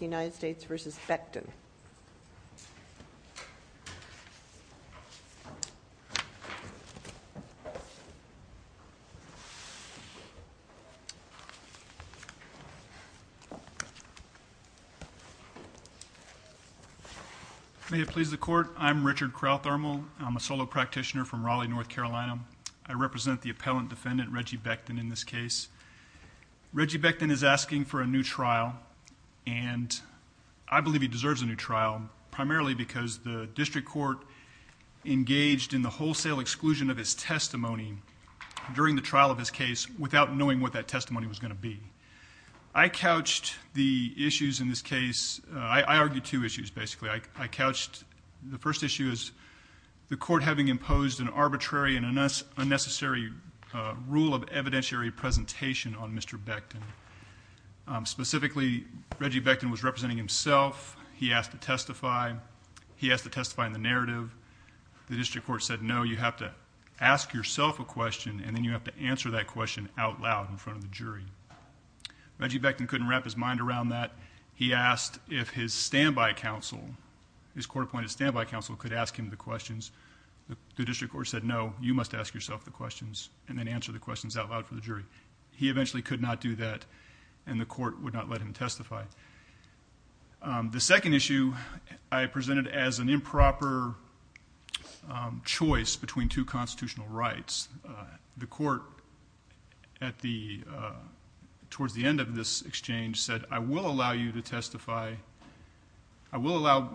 United States v. Beckton. May it please the Court, I'm Richard Crowthermal. I'm a solo practitioner from Raleigh, North Carolina. I represent the appellant defendant, Reggie Beckton in this case. Reggie Beckton is asking for a new trial, and I believe he deserves a new trial, primarily because the district court engaged in the wholesale exclusion of his testimony during the trial of his case without knowing what that testimony was going to be. I couched the issues in this case. I argued two issues, basically. I couched the first issue as the court having imposed an arbitrary and unnecessary rule of evidentiary presentation on Mr. Beckton. Specifically, Reggie Beckton was representing himself. He asked to testify. He asked to testify in the narrative. The district court said, no, you have to ask yourself a question, and then you have to answer that question out loud in front of the jury. Reggie Beckton couldn't wrap his mind around that. He asked if his stand-by counsel, his court-appointed stand-by counsel could ask him the questions. The district court said, no, you must ask yourself the questions, and then answer the questions out loud for the jury. He eventually could not do that, and the court would not let him testify. The second issue I presented as an improper choice between two constitutional rights. The court at the, towards the end of this exchange said, I will allow you to testify I will allow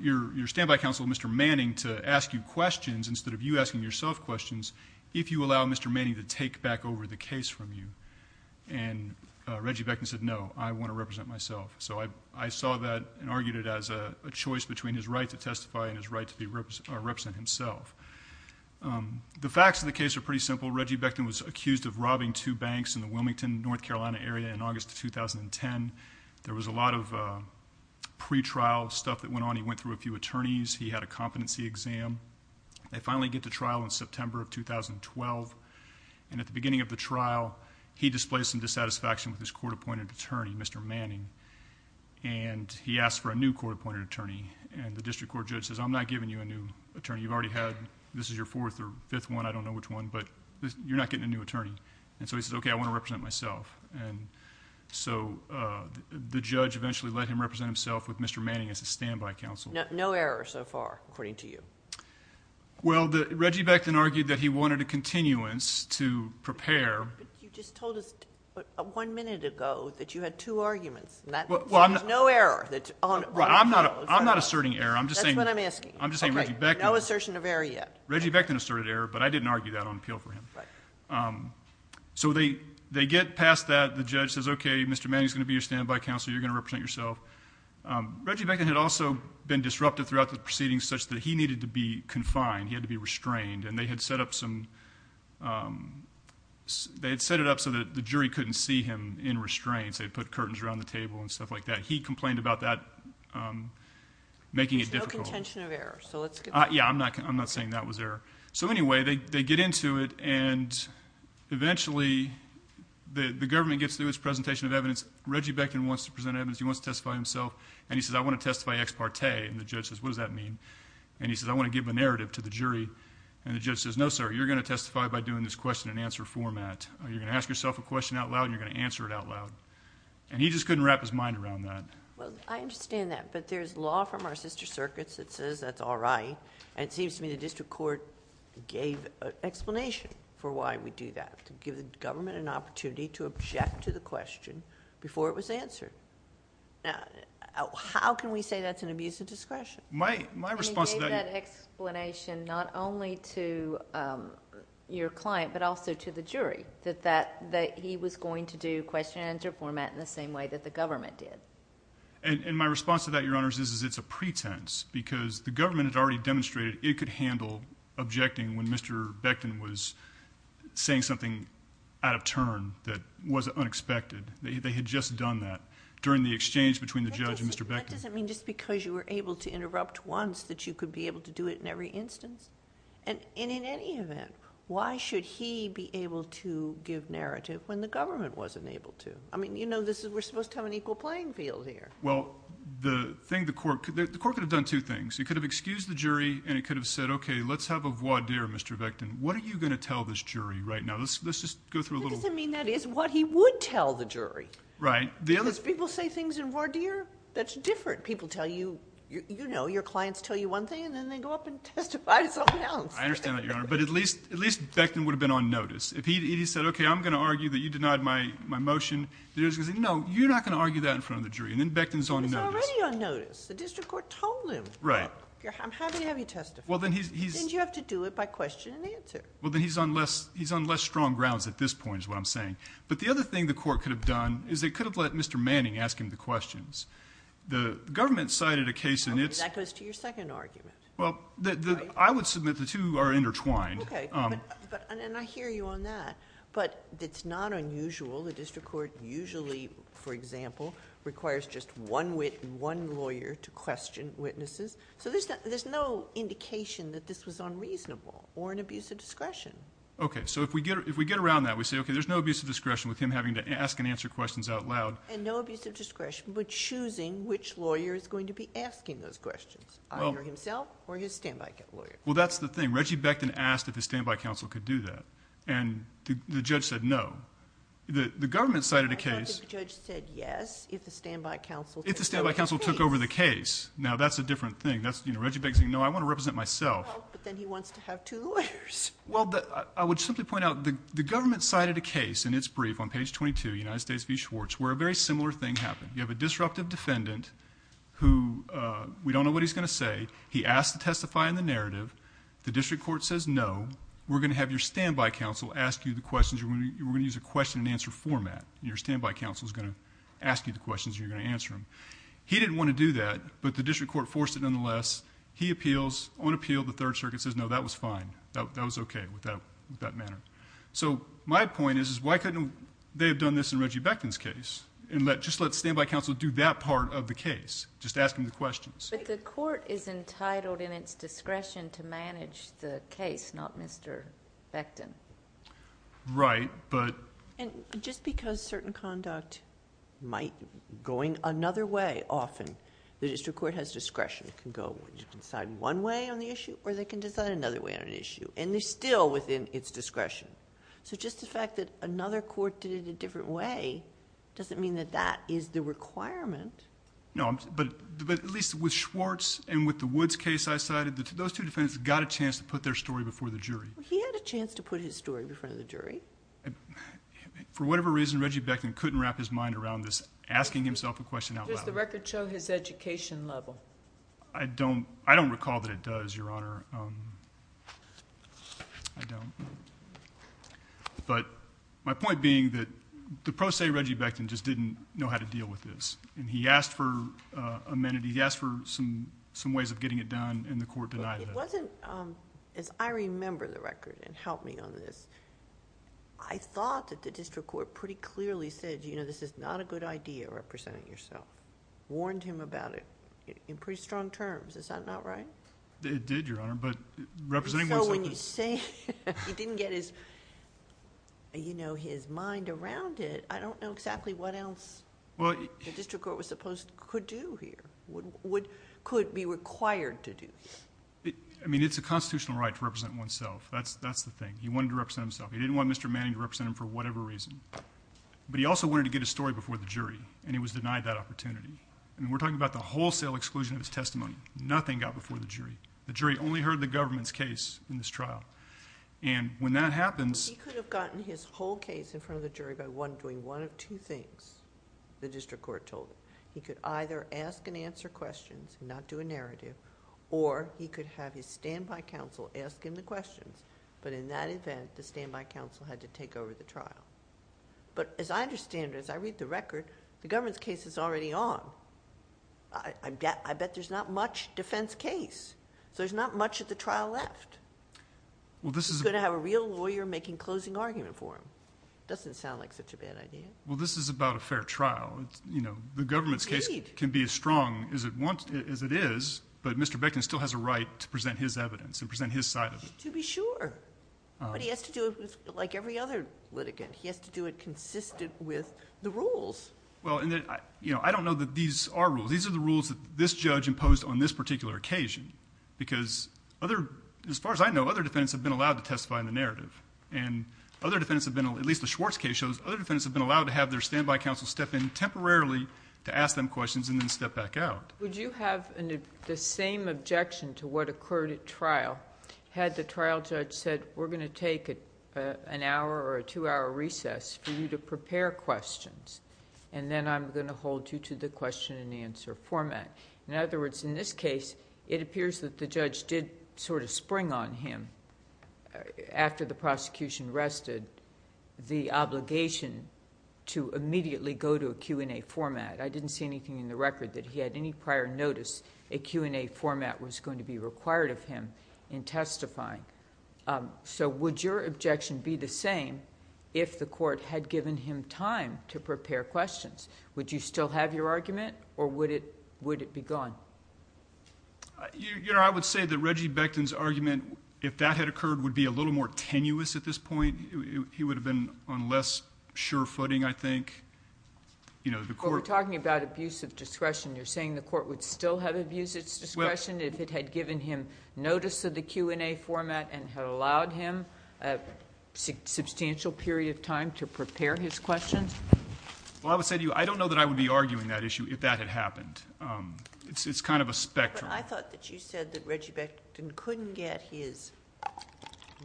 your stand-by counsel, Mr. Manning, to ask you questions instead of you asking yourself questions if you allow Mr. Manning to take back over the case from you. Reggie Beckton said, no, I want to represent myself. I saw that and argued it as a choice between his right to testify and his right to represent himself. The facts of the case are pretty simple. Reggie Beckton was accused of robbing two banks in the Wilmington, North Carolina area in August of 2010. There was a lot of pre-trial stuff that went on. He went through a few attorneys. He had a competency exam. They finally get to trial in September of 2012. At the beginning of the trial, he displays some dissatisfaction with his court-appointed attorney, Mr. Manning. He asked for a new court-appointed attorney. The district court judge says, I'm not giving you a new attorney. You've already had, this is your fourth or fifth one, I don't know which one, but you're not getting a new attorney. He says, okay, I want to represent myself. The judge eventually let him represent himself with Mr. Manning as a standby counsel. No error so far, according to you? Reggie Beckton argued that he wanted a continuance to prepare. You just told us one minute ago that you had two arguments. No error. I'm not asserting error. That's what I'm asking. No assertion of error yet. Reggie Beckton asserted error, but I didn't argue that on appeal for him. So they get past that. The judge says, okay, Mr. Manning is going to be your standby counsel. You're going to represent yourself. Reggie Beckton had also been disruptive throughout the proceedings such that he needed to be confined. He had to be restrained. They had set it up so that the jury couldn't see him in restraints. They'd put curtains around the table and stuff like that. He complained about that, making it difficult. Contention of error. Yeah, I'm not saying that was error. So anyway, they get into it, and eventually the government gets through its presentation of evidence. Reggie Beckton wants to present evidence. He wants to testify himself. He says, I want to testify ex parte. The judge says, what does that mean? He says, I want to give a narrative to the jury. The judge says, no, sir, you're going to testify by doing this question and answer format. You're going to ask yourself a question out loud, and you're going to answer it out loud. He just couldn't wrap his mind around that. Well, I understand that, but there's law from our sister circuits that says that's all right. It seems to me the district court gave an explanation for why we do that, to give the government an opportunity to object to the question before it was answered. How can we say that's an abuse of discretion? My response to that... They gave that explanation not only to your client, but also to the jury, that he was going to do question and answer format in the same way that the government did. My response to that, Your Honors, is it's a pretense, because the government had already demonstrated it could handle objecting when Mr. Beckton was saying something out of turn that was unexpected. They had just done that during the exchange between the judge and Mr. Beckton. That doesn't mean just because you were able to interrupt once that you could be able to do it in every instance? In any event, why should he be able to give narrative when the government wasn't able to? We're supposed to have an equal playing field here. The court could have done two things. It could have excused the jury, and it could have said, okay, let's have a voir dire, Mr. Beckton. What are you going to tell this jury right now? Let's just go through a little... That doesn't mean that is what he would tell the jury, because people say things in voir dire that's different. People tell you... your clients tell you one thing, and then they go up and testify to something else. I understand that, Your Honor, but at least Beckton would have been on notice. If he said, okay, I'm going to argue that you denied my motion, the jury's going to say, no, you're not going to argue that in front of the jury, and then Beckton's on notice. He's already on notice. The district court told him, look, I'm happy to have you testify. Then you have to do it by question and answer. Then he's on less strong grounds at this point is what I'm saying. The other thing the court could have done is they could have let Mr. Manning ask him the questions. The government cited a case in its... That goes to your second argument, right? I hear you on that, but it's not unusual. The district court usually, for example, requires just one lawyer to question witnesses. There's no indication that this was unreasonable or an abuse of discretion. If we get around that, we say, okay, there's no abuse of discretion with him having to ask and answer questions out loud. No abuse of discretion, but choosing which lawyer is going to be asking those questions, either himself or his standby lawyer. Well, that's the thing. Reggie Beckton asked if his standby counsel could do that, and the judge said no. The government cited a case... I thought the judge said yes if the standby counsel took over the case. If the standby counsel took over the case. Now, that's a different thing. Reggie Beckton said, no, I want to represent myself. Well, but then he wants to have two lawyers. Well, I would simply point out the government cited a case in its brief on page 22, United States v. Schwartz, where a very similar thing happened. You have a disruptive defendant who... we don't know what he's going to say. He asked to testify in the narrative. The district court says, no, we're going to have your standby counsel ask you the questions. We're going to use a question and answer format. Your standby counsel is going to ask you the questions and you're going to answer them. He didn't want to do that, but the district court forced it nonetheless. He appeals. On appeal, the Third Circuit says, no, that was fine. That was okay with that manner. So my point is, why couldn't they have done this in Reggie Beckton's case and just let him handle the case, just ask him the questions? But the court is entitled in its discretion to manage the case, not Mr. Beckton. Right, but... Just because certain conduct might go in another way often, the district court has discretion. It can go... you can decide one way on the issue, or they can decide another way on an issue, and they're still within its discretion. So just the fact that another court did it a different way doesn't mean that that is the requirement. No, but at least with Schwartz and with the Woods case I cited, those two defendants got a chance to put their story before the jury. He had a chance to put his story before the jury. For whatever reason, Reggie Beckton couldn't wrap his mind around this, asking himself a question out loud. Does the record show his education level? I don't recall that it does, Your Honor. I don't. But my point being that the pro se Reggie Beckton just didn't know how to deal with this, and he asked for amenity. He asked for some ways of getting it done, and the court denied it. It wasn't... as I remember the record, and help me on this, I thought that the district court pretty clearly said, you know, this is not a good idea, representing yourself. Warned him about it in pretty strong terms. Is that not right? It did, Your Honor, but representing oneself... So when you say he didn't get his, you know, his mind around it, I don't know exactly what else the district court was supposed... could do here, would... could be required to do. I mean, it's a constitutional right to represent oneself. That's the thing. He wanted to represent himself. He didn't want Mr. Manning to represent him for whatever reason, but he also wanted to get his story before the jury, and he was denied that opportunity. I mean, we're talking about the wholesale exclusion of his testimony. Nothing got before the jury. The jury only heard the government's case in this trial, and when that happens... He could have gotten his whole case in front of the jury by, one, doing one of two things, the district court told him. He could either ask and answer questions and not do a narrative, or he could have his standby counsel ask him the questions, but in that event, the standby counsel had to take over the trial. But as I understand it, as I read the record, the government's case is already on. I bet there's not much defense case, so there's not much of the trial left. Well, this is... He's going to have a real lawyer making closing argument for him. Doesn't sound like such a bad idea. Well, this is about a fair trial. You know, the government's case can be as strong as it wants... as it is, but Mr. Beckman still has a right to present his evidence and present his side of it. To be sure. But he has to do it like every other litigant. He has to do it consistent with the rules. Well, I don't know that these are rules. These are the rules that this judge imposed on this particular occasion, because as far as I know, other defendants have been allowed to testify in the narrative, and other defendants have been... at least the Schwartz case shows other defendants have been allowed to have their standby counsel step in temporarily to ask them questions and then step back out. Would you have the same objection to what occurred at trial, had the trial judge said that we're going to take an hour or a two-hour recess for you to prepare questions, and then I'm going to hold you to the question and answer format? In other words, in this case, it appears that the judge did sort of spring on him after the prosecution rested the obligation to immediately go to a Q&A format. I didn't see anything in the record that he had any prior notice a Q&A format was going to be required of him in testifying. So would your objection be the same if the court had given him time to prepare questions? Would you still have your argument, or would it be gone? I would say that Reggie Becton's argument, if that had occurred, would be a little more tenuous at this point. He would have been on less sure footing, I think. We're talking about abuse of discretion. You're saying the court would still have abused its discretion if it had given him notice of the Q&A format and had allowed him a substantial period of time to prepare his questions? I would say to you, I don't know that I would be arguing that issue if that had happened. It's kind of a spectrum. I thought that you said that Reggie Becton couldn't get his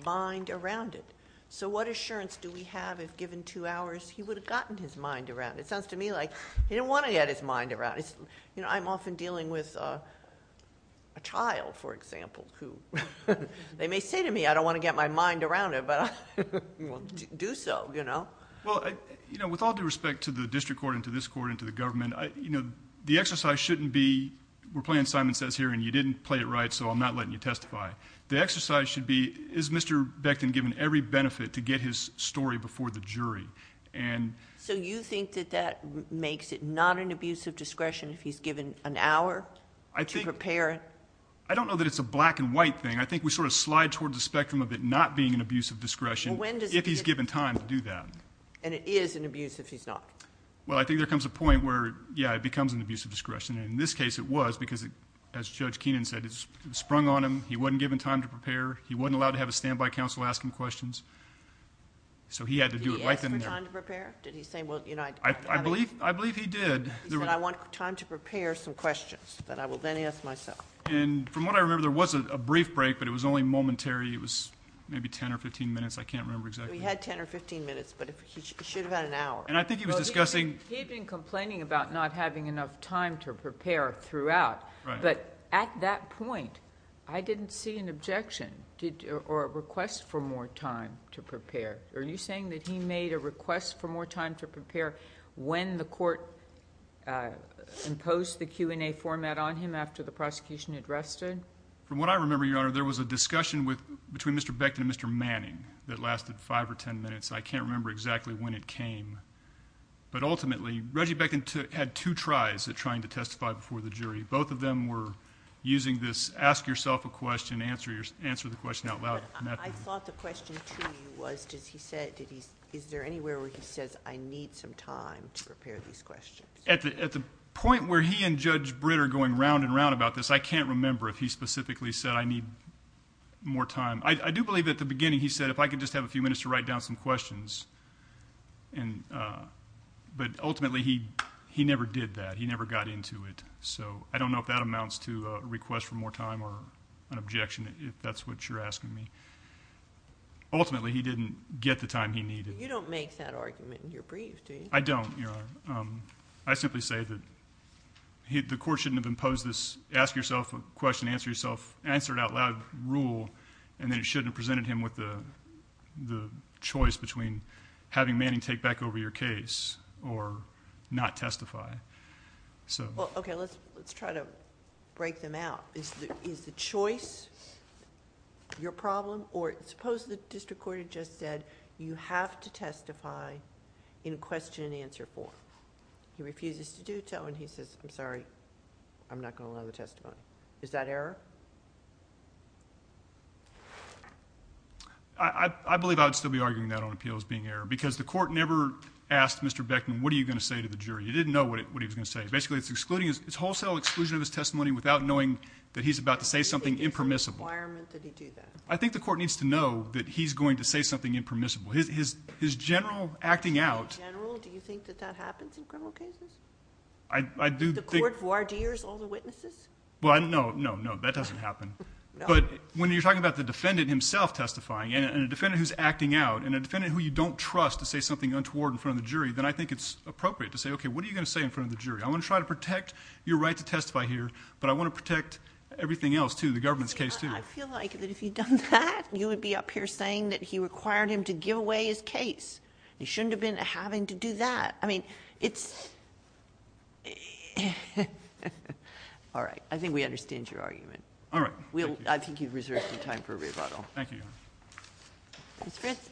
mind around it. So what assurance do we have if given two hours, he would have gotten his mind around it? It sounds to me like he didn't want to get his mind around it. I'm often dealing with a child, for example. They may say to me, I don't want to get my mind around it, but I will do so. With all due respect to the district court, and to this court, and to the government, the exercise shouldn't be, we're playing Simon Says here, and you didn't play it right, so I'm not letting you testify. The exercise should be, is Mr. Becton given every benefit to get his story before the jury? So you think that that makes it not an abuse of discretion if he's given an hour to prepare? I don't know that it's a black and white thing. I think we sort of slide towards the spectrum of it not being an abuse of discretion if he's given time to do that. And it is an abuse if he's not? Well I think there comes a point where, yeah, it becomes an abuse of discretion. In this case it was because, as Judge Keenan said, it sprung on him. He wasn't given time to So he had to do it right then and there. Did he ask for time to prepare? Did he say, well, you know... I believe he did. He said, I want time to prepare some questions that I will then ask myself. And from what I remember, there was a brief break, but it was only momentary. It was maybe 10 or 15 minutes. I can't remember exactly. He had 10 or 15 minutes, but he should have had an hour. And I think he was discussing... He had been complaining about not having enough time to prepare throughout. Right. But at that point, I didn't see an objection or a request for more time to prepare. Are you saying that he made a request for more time to prepare when the court imposed the Q&A format on him after the prosecution had rested? From what I remember, Your Honor, there was a discussion between Mr. Becton and Mr. Manning that lasted 5 or 10 minutes. I can't remember exactly when it came. But ultimately, Reggie Becton had two tries at trying to testify before the jury. Both of them were using this, ask yourself a question, answer the question out loud. I thought the question to you was, is there anywhere where he says, I need some time to prepare these questions? At the point where he and Judge Britt are going round and round about this, I can't remember if he specifically said, I need more time. I do believe at the beginning he said, if I could just have a few minutes to write down some questions. But ultimately, he never did that. He never got into it. So I don't know if that amounts to a request for more time or an objection, if that's what you're asking me. Ultimately, he didn't get the time he needed. You don't make that argument in your brief, do you? I don't, Your Honor. I simply say that the court shouldn't have imposed this ask yourself a question, answer it out loud rule, and then it shouldn't have presented him with the choice between having Manning take back over your case or not testify. Okay, let's try to break them out. Is the choice your problem, or suppose the district court had just said, you have to testify in question and answer form. He refuses to do so, and he says, I'm sorry, I'm not going to allow the testimony. Is that error? I believe I would still be arguing that on appeal as being error, because the court never asked Mr. Beckman, what are you going to say to the jury? You didn't know what he was going to say. Basically, it's wholesale exclusion of his testimony without knowing that he's about to say something impermissible. I think it's a requirement that he do that. I think the court needs to know that he's going to say something impermissible. His general acting out. His general, do you think that that happens in criminal cases? I do think. The court voir dires all the witnesses? Well, no, no, no, that doesn't happen. But when you're talking about the defendant himself testifying and a defendant who's acting out and a defendant who you don't trust to say something untoward in front of the jury, then I think it's appropriate to say, okay, what are you going to say in front of the jury? I'm going to try to protect your right to testify here, but I want to protect everything else, too, the government's case, too. I feel like that if you'd done that, you would be up here saying that he required him to give away his case. You shouldn't have been having to do that. I mean, it's – all right. I think we understand your argument. All right. Thank you, Your Honor. Ms. Fritz.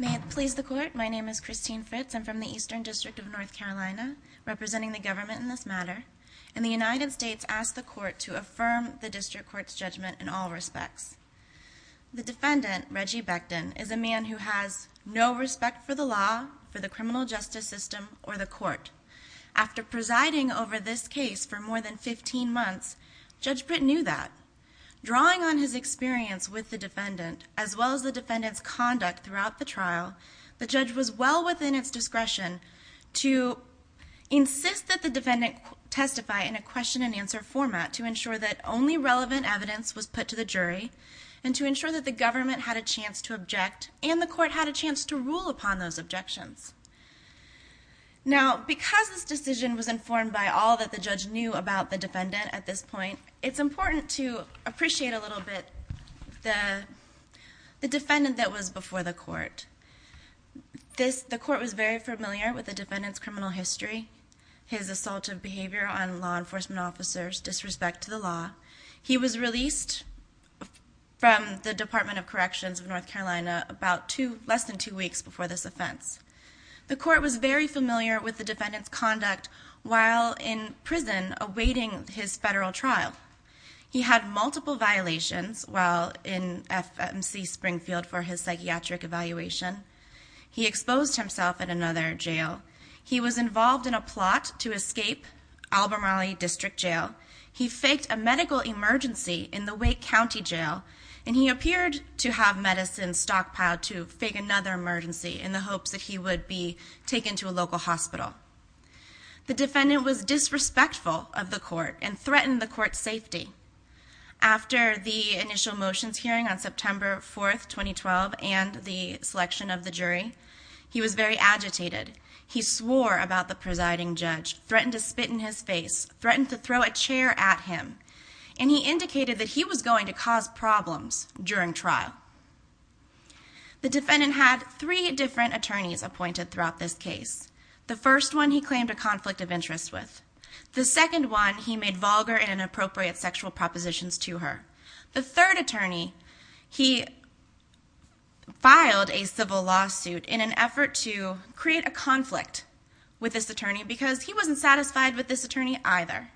May it please the Court, my name is Christine Fritz. I'm from the Eastern District of North Carolina, representing the government in this matter. And the United States asked the Court to affirm the District Court's judgment in all respects. The defendant, Reggie Becton, is a man who has no respect for the law, for the criminal justice system, or the Court. After presiding over this case for more than 15 months, Judge Britt knew that. Drawing on his experience with the defendant, as well as the defendant's conduct throughout the trial, the judge was well within its discretion to insist that the defendant testify in a question-and-answer format to ensure that only relevant evidence was put to the jury and to ensure that the government had a chance to object and the Court had a chance to rule upon those objections. Now, because this decision was informed by all that the judge knew about the defendant at this point, it's important to appreciate a little bit the defendant that was before the Court. The Court was very familiar with the defendant's criminal history, his assaultive behavior on law enforcement officers, disrespect to the law. He was released from the Department of Corrections of North Carolina about less than two weeks before this offense. The Court was very familiar with the defendant's conduct while in prison awaiting his federal trial. He had multiple violations while in FMC Springfield for his psychiatric evaluation. He exposed himself at another jail. He was involved in a plot to escape Albemarle District Jail. He faked a medical emergency in the Wake County Jail, and he appeared to have medicine stockpiled to fake another emergency in the hopes that he would be taken to a local hospital. The defendant was disrespectful of the Court and threatened the Court's safety. After the initial motions hearing on September 4, 2012, and the selection of the jury, he was very agitated. He swore about the presiding judge, threatened to spit in his face, threatened to throw a chair at him, and he indicated that he was going to cause problems during trial. The defendant had three different attorneys appointed throughout this case. The first one he claimed a conflict of interest with. The second one he made vulgar and inappropriate sexual propositions to her. The third attorney, he filed a civil lawsuit in an effort to create a conflict with this attorney because he wasn't satisfied with this attorney either.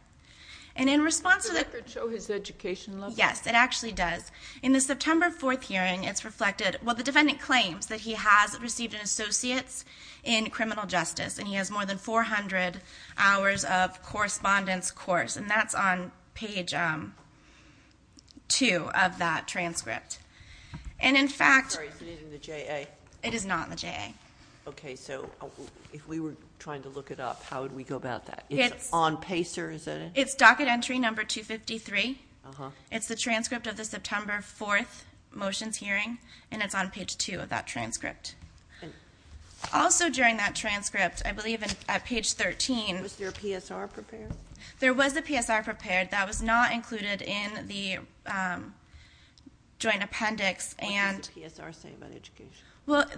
And in response to the- Does the record show his education level? Yes, it actually does. In the September 4th hearing, it's reflected, well, the defendant claims that he has received an associates in criminal justice, and he has more than 400 hours of correspondence course, and that's on page two of that transcript. And in fact- Sorry, is it in the JA? It is not in the JA. Okay, so if we were trying to look it up, how would we go about that? It's on PACER, is that it? It's docket entry number 253. It's the transcript of the September 4th motions hearing, and it's on page two of that transcript. Also during that transcript, I believe at page 13- Was there a PSR prepared? There was a PSR prepared. That was not included in the joint appendix, and- What does the PSR say about education? But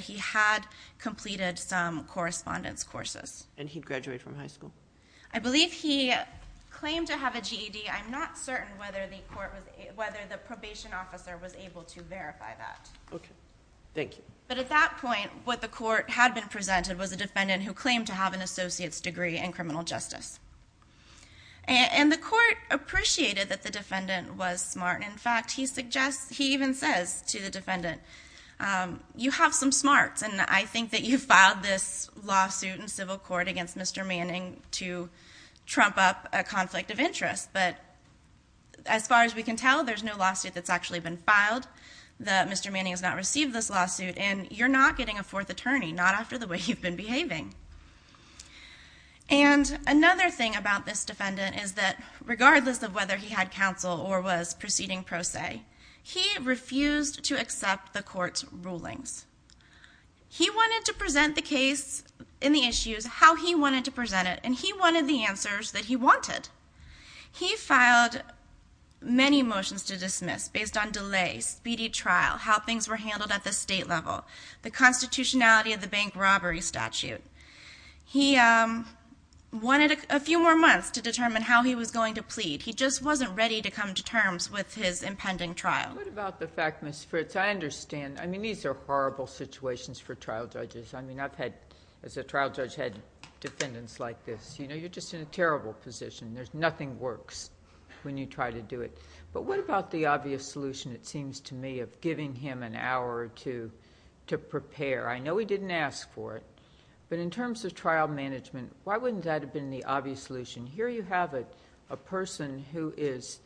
he had completed some correspondence courses. And he graduated from high school? I believe he claimed to have a GED. I'm not certain whether the probation officer was able to verify that. Okay. Thank you. But at that point, what the court had been presented was a defendant who claimed to have an associates degree in criminal justice. And the court appreciated that the defendant was smart. In fact, he even says to the defendant, you have some smarts. And I think that you filed this lawsuit in civil court against Mr. Manning to trump up a conflict of interest. But as far as we can tell, there's no lawsuit that's actually been filed that Mr. Manning has not received this lawsuit. And you're not getting a fourth attorney, not after the way you've been behaving. And another thing about this defendant is that regardless of whether he had counsel or was proceeding pro se, he refused to accept the court's rulings. He wanted to present the case in the issues how he wanted to present it, and he wanted the answers that he wanted. He filed many motions to dismiss based on delay, speedy trial, how things were handled at the state level, the constitutionality of the bank robbery statute. He wanted a few more months to determine how he was going to plead. He just wasn't ready to come to terms with his impending trial. What about the fact, Ms. Fritz, I understand. I mean, these are horrible situations for trial judges. I mean, I've had, as a trial judge, had defendants like this. You know, you're just in a terrible position. Nothing works when you try to do it. But what about the obvious solution, it seems to me, of giving him an hour or two to prepare? I know he didn't ask for it, but in terms of trial management, why wouldn't that have been the obvious solution? Here you have a person who is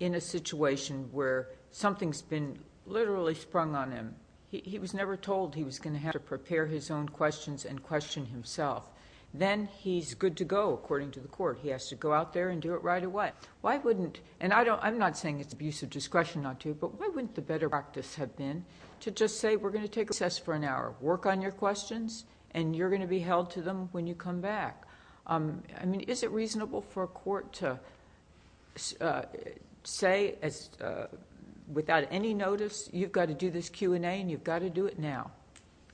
in a situation where something's been literally sprung on him. He was never told he was going to have to prepare his own questions and question himself. Then he's good to go, according to the court. He has to go out there and do it right away. Why wouldn't—and I'm not saying it's abuse of discretion not to, but why wouldn't the better practice have been to just say, we're going to take a recess for an hour, work on your questions, and you're going to be held to them when you come back? I mean, is it reasonable for a court to say, without any notice, you've got to do this Q&A and you've got to do it now,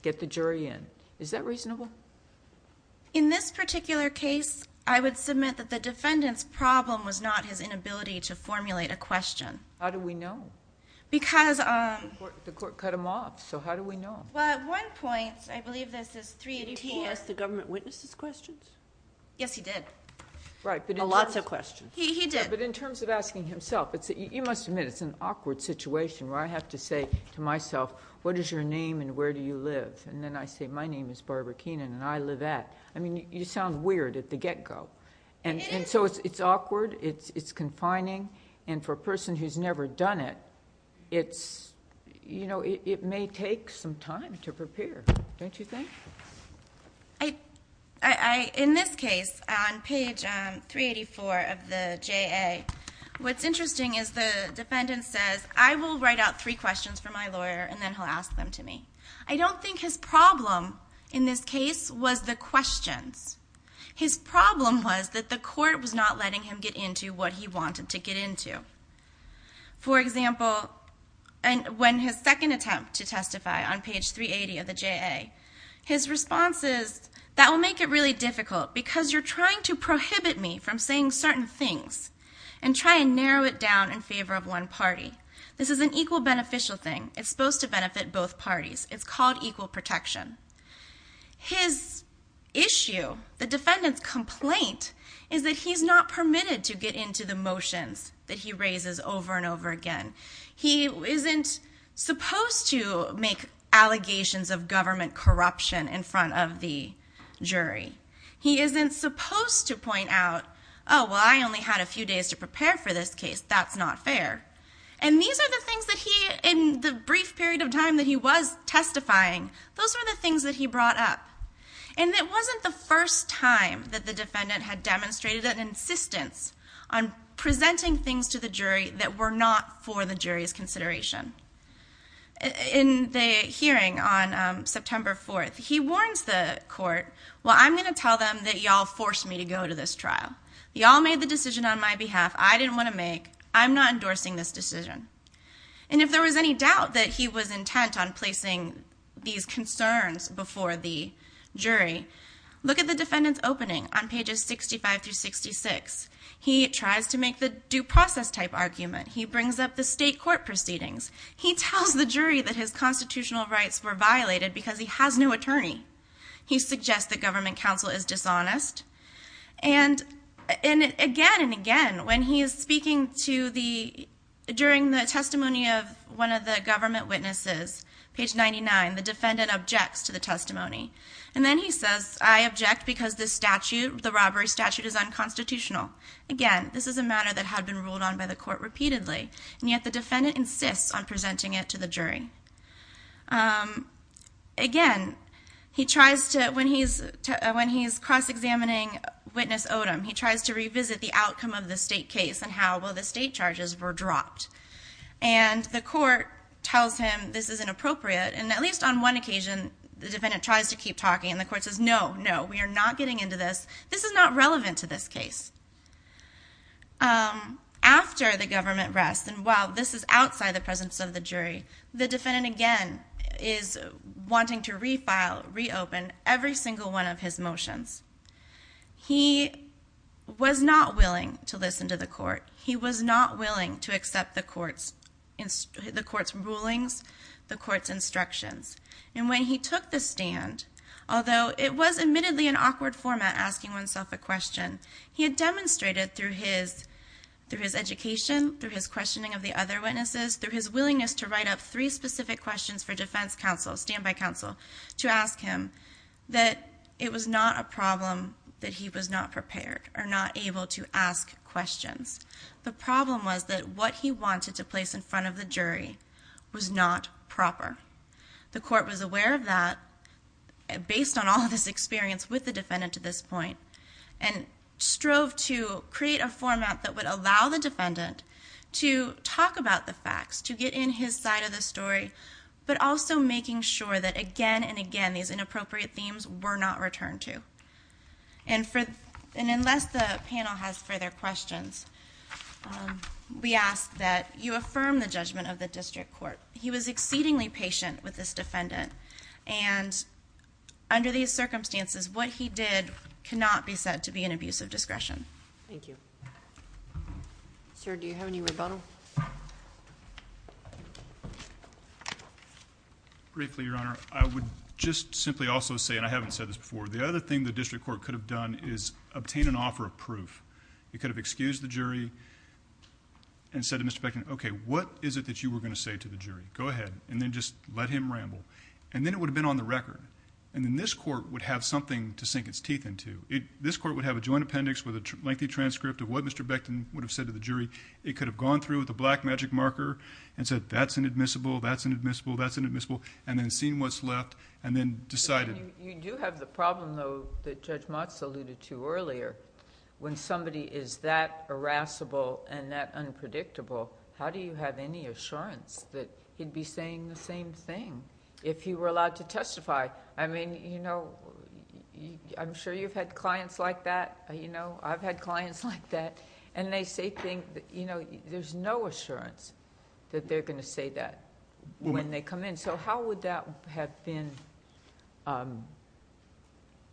get the jury in? Is that reasonable? In this particular case, I would submit that the defendant's problem was not his inability to formulate a question. How do we know? Because— The court cut him off, so how do we know? Well, at one point, I believe this is 384— Did he ask the government witnesses questions? Yes, he did. Lots of questions. He did. But in terms of asking himself, you must admit it's an awkward situation where I have to say to myself, what is your name and where do you live? And then I say, my name is Barbara Keenan and I live at... I mean, you sound weird at the get-go. It is. So it's awkward, it's confining, and for a person who's never done it, it may take some time to prepare, don't you think? In this case, on page 384 of the JA, what's interesting is the defendant says, I will write out three questions for my lawyer and then he'll ask them to me. I don't think his problem in this case was the questions. His problem was that the court was not letting him get into what he wanted to get into. For example, when his second attempt to testify on page 380 of the JA, his response is, that will make it really difficult because you're trying to prohibit me from saying certain things and try and narrow it down in favor of one party. This is an equal beneficial thing. It's supposed to benefit both parties. It's called equal protection. His issue, the defendant's complaint, is that he's not permitted to get into the motions that he raises over and over again. He isn't supposed to make allegations of government corruption in front of the jury. He isn't supposed to point out, oh, well, I only had a few days to prepare for this case. That's not fair. And these are the things that he, in the brief period of time that he was testifying, those were the things that he brought up. And it wasn't the first time that the defendant had demonstrated an insistence on presenting things to the jury that were not for the jury's consideration. In the hearing on September 4th, he warns the court, well, I'm going to tell them that you all forced me to go to this trial. You all made the decision on my behalf. I didn't want to make. I'm not endorsing this decision. And if there was any doubt that he was intent on placing these concerns before the jury, look at the defendant's opening on pages 65 through 66. He tries to make the due process type argument. He brings up the state court proceedings. He tells the jury that his constitutional rights were violated because he has no attorney. He suggests that government counsel is dishonest. And again and again, when he is speaking to the, during the testimony of one of the government witnesses, page 99, the defendant objects to the testimony. And then he says, I object because this statute, the robbery statute, is unconstitutional. Again, this is a matter that had been ruled on by the court repeatedly, Again, he tries to, when he's cross-examining witness Odom, he tries to revisit the outcome of the state case and how, well, the state charges were dropped. And the court tells him this is inappropriate. And at least on one occasion, the defendant tries to keep talking. And the court says, no, no, we are not getting into this. This is not relevant to this case. After the government rests, and while this is outside the presence of the jury, the defendant, again, is wanting to refile, reopen every single one of his motions. He was not willing to listen to the court. He was not willing to accept the court's rulings, the court's instructions. And when he took the stand, although it was admittedly an awkward format asking oneself a question, he had demonstrated through his education, through his questioning of the other witnesses, through his willingness to write up three specific questions for defense counsel, standby counsel, to ask him that it was not a problem that he was not prepared or not able to ask questions. The problem was that what he wanted to place in front of the jury was not proper. The court was aware of that, based on all of his experience with the defendant to this point, and strove to create a format that would allow the defendant to talk about the facts, to get in his side of the story, but also making sure that, again and again, these inappropriate themes were not returned to. And unless the panel has further questions, we ask that you affirm the judgment of the district court. He was exceedingly patient with this defendant. And under these circumstances, what he did cannot be said to be an abuse of discretion. Thank you. Sir, do you have any rebuttal? Briefly, Your Honor, I would just simply also say, and I haven't said this before, the other thing the district court could have done is obtain an offer of proof. It could have excused the jury and said to Mr. Beckman, okay, what is it that you were going to say to the jury? Go ahead, and then just let him ramble. And then it would have been on the record. And then this court would have something to sink its teeth into. This court would have a joint appendix with a lengthy transcript of what Mr. Beckman would have said to the jury. It could have gone through with a black magic marker and said, that's inadmissible, that's inadmissible, that's inadmissible, and then seen what's left, and then decided. You do have the problem, though, that Judge Motz alluded to earlier. When somebody is that irascible and that unpredictable, how do you have any assurance that he'd be saying the same thing if he were allowed to testify? I mean, I'm sure you've had clients like that. I've had clients like that, and they say things... There's no assurance that they're going to say that when they come in. So how would that have been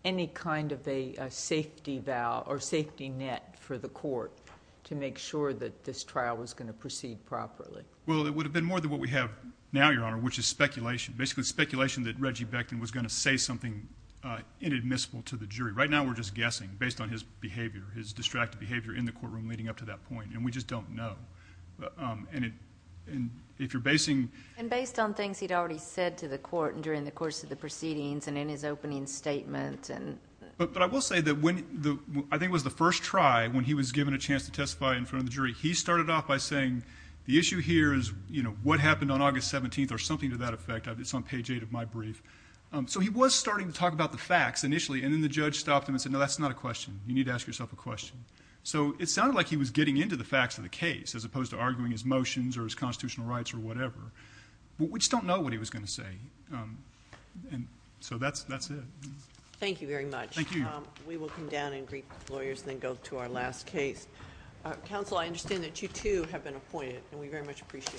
any kind of a safety net for the court to make sure that this trial was going to proceed properly? Well, it would have been more than what we have now, Your Honor, which is speculation, basically speculation that Reggie Beckman was going to say something inadmissible to the jury. Right now we're just guessing based on his behavior, his distracted behavior in the courtroom leading up to that point, and we just don't know. And if you're basing... And based on things he'd already said to the court during the course of the proceedings and in his opening statement. But I will say that when I think it was the first try, when he was given a chance to testify in front of the jury, he started off by saying the issue here is what happened on August 17th or something to that effect. It's on page 8 of my brief. So he was starting to talk about the facts initially, and then the judge stopped him and said, no, that's not a question. You need to ask yourself a question. So it sounded like he was getting into the facts of the case as opposed to arguing his motions or his constitutional rights or whatever. We just don't know what he was going to say. So that's it. Thank you very much. Thank you, Your Honor. We will come down and greet the lawyers and then go to our last case. Counsel, I understand that you, too, have been appointed, and we very much appreciate your service. Thank you.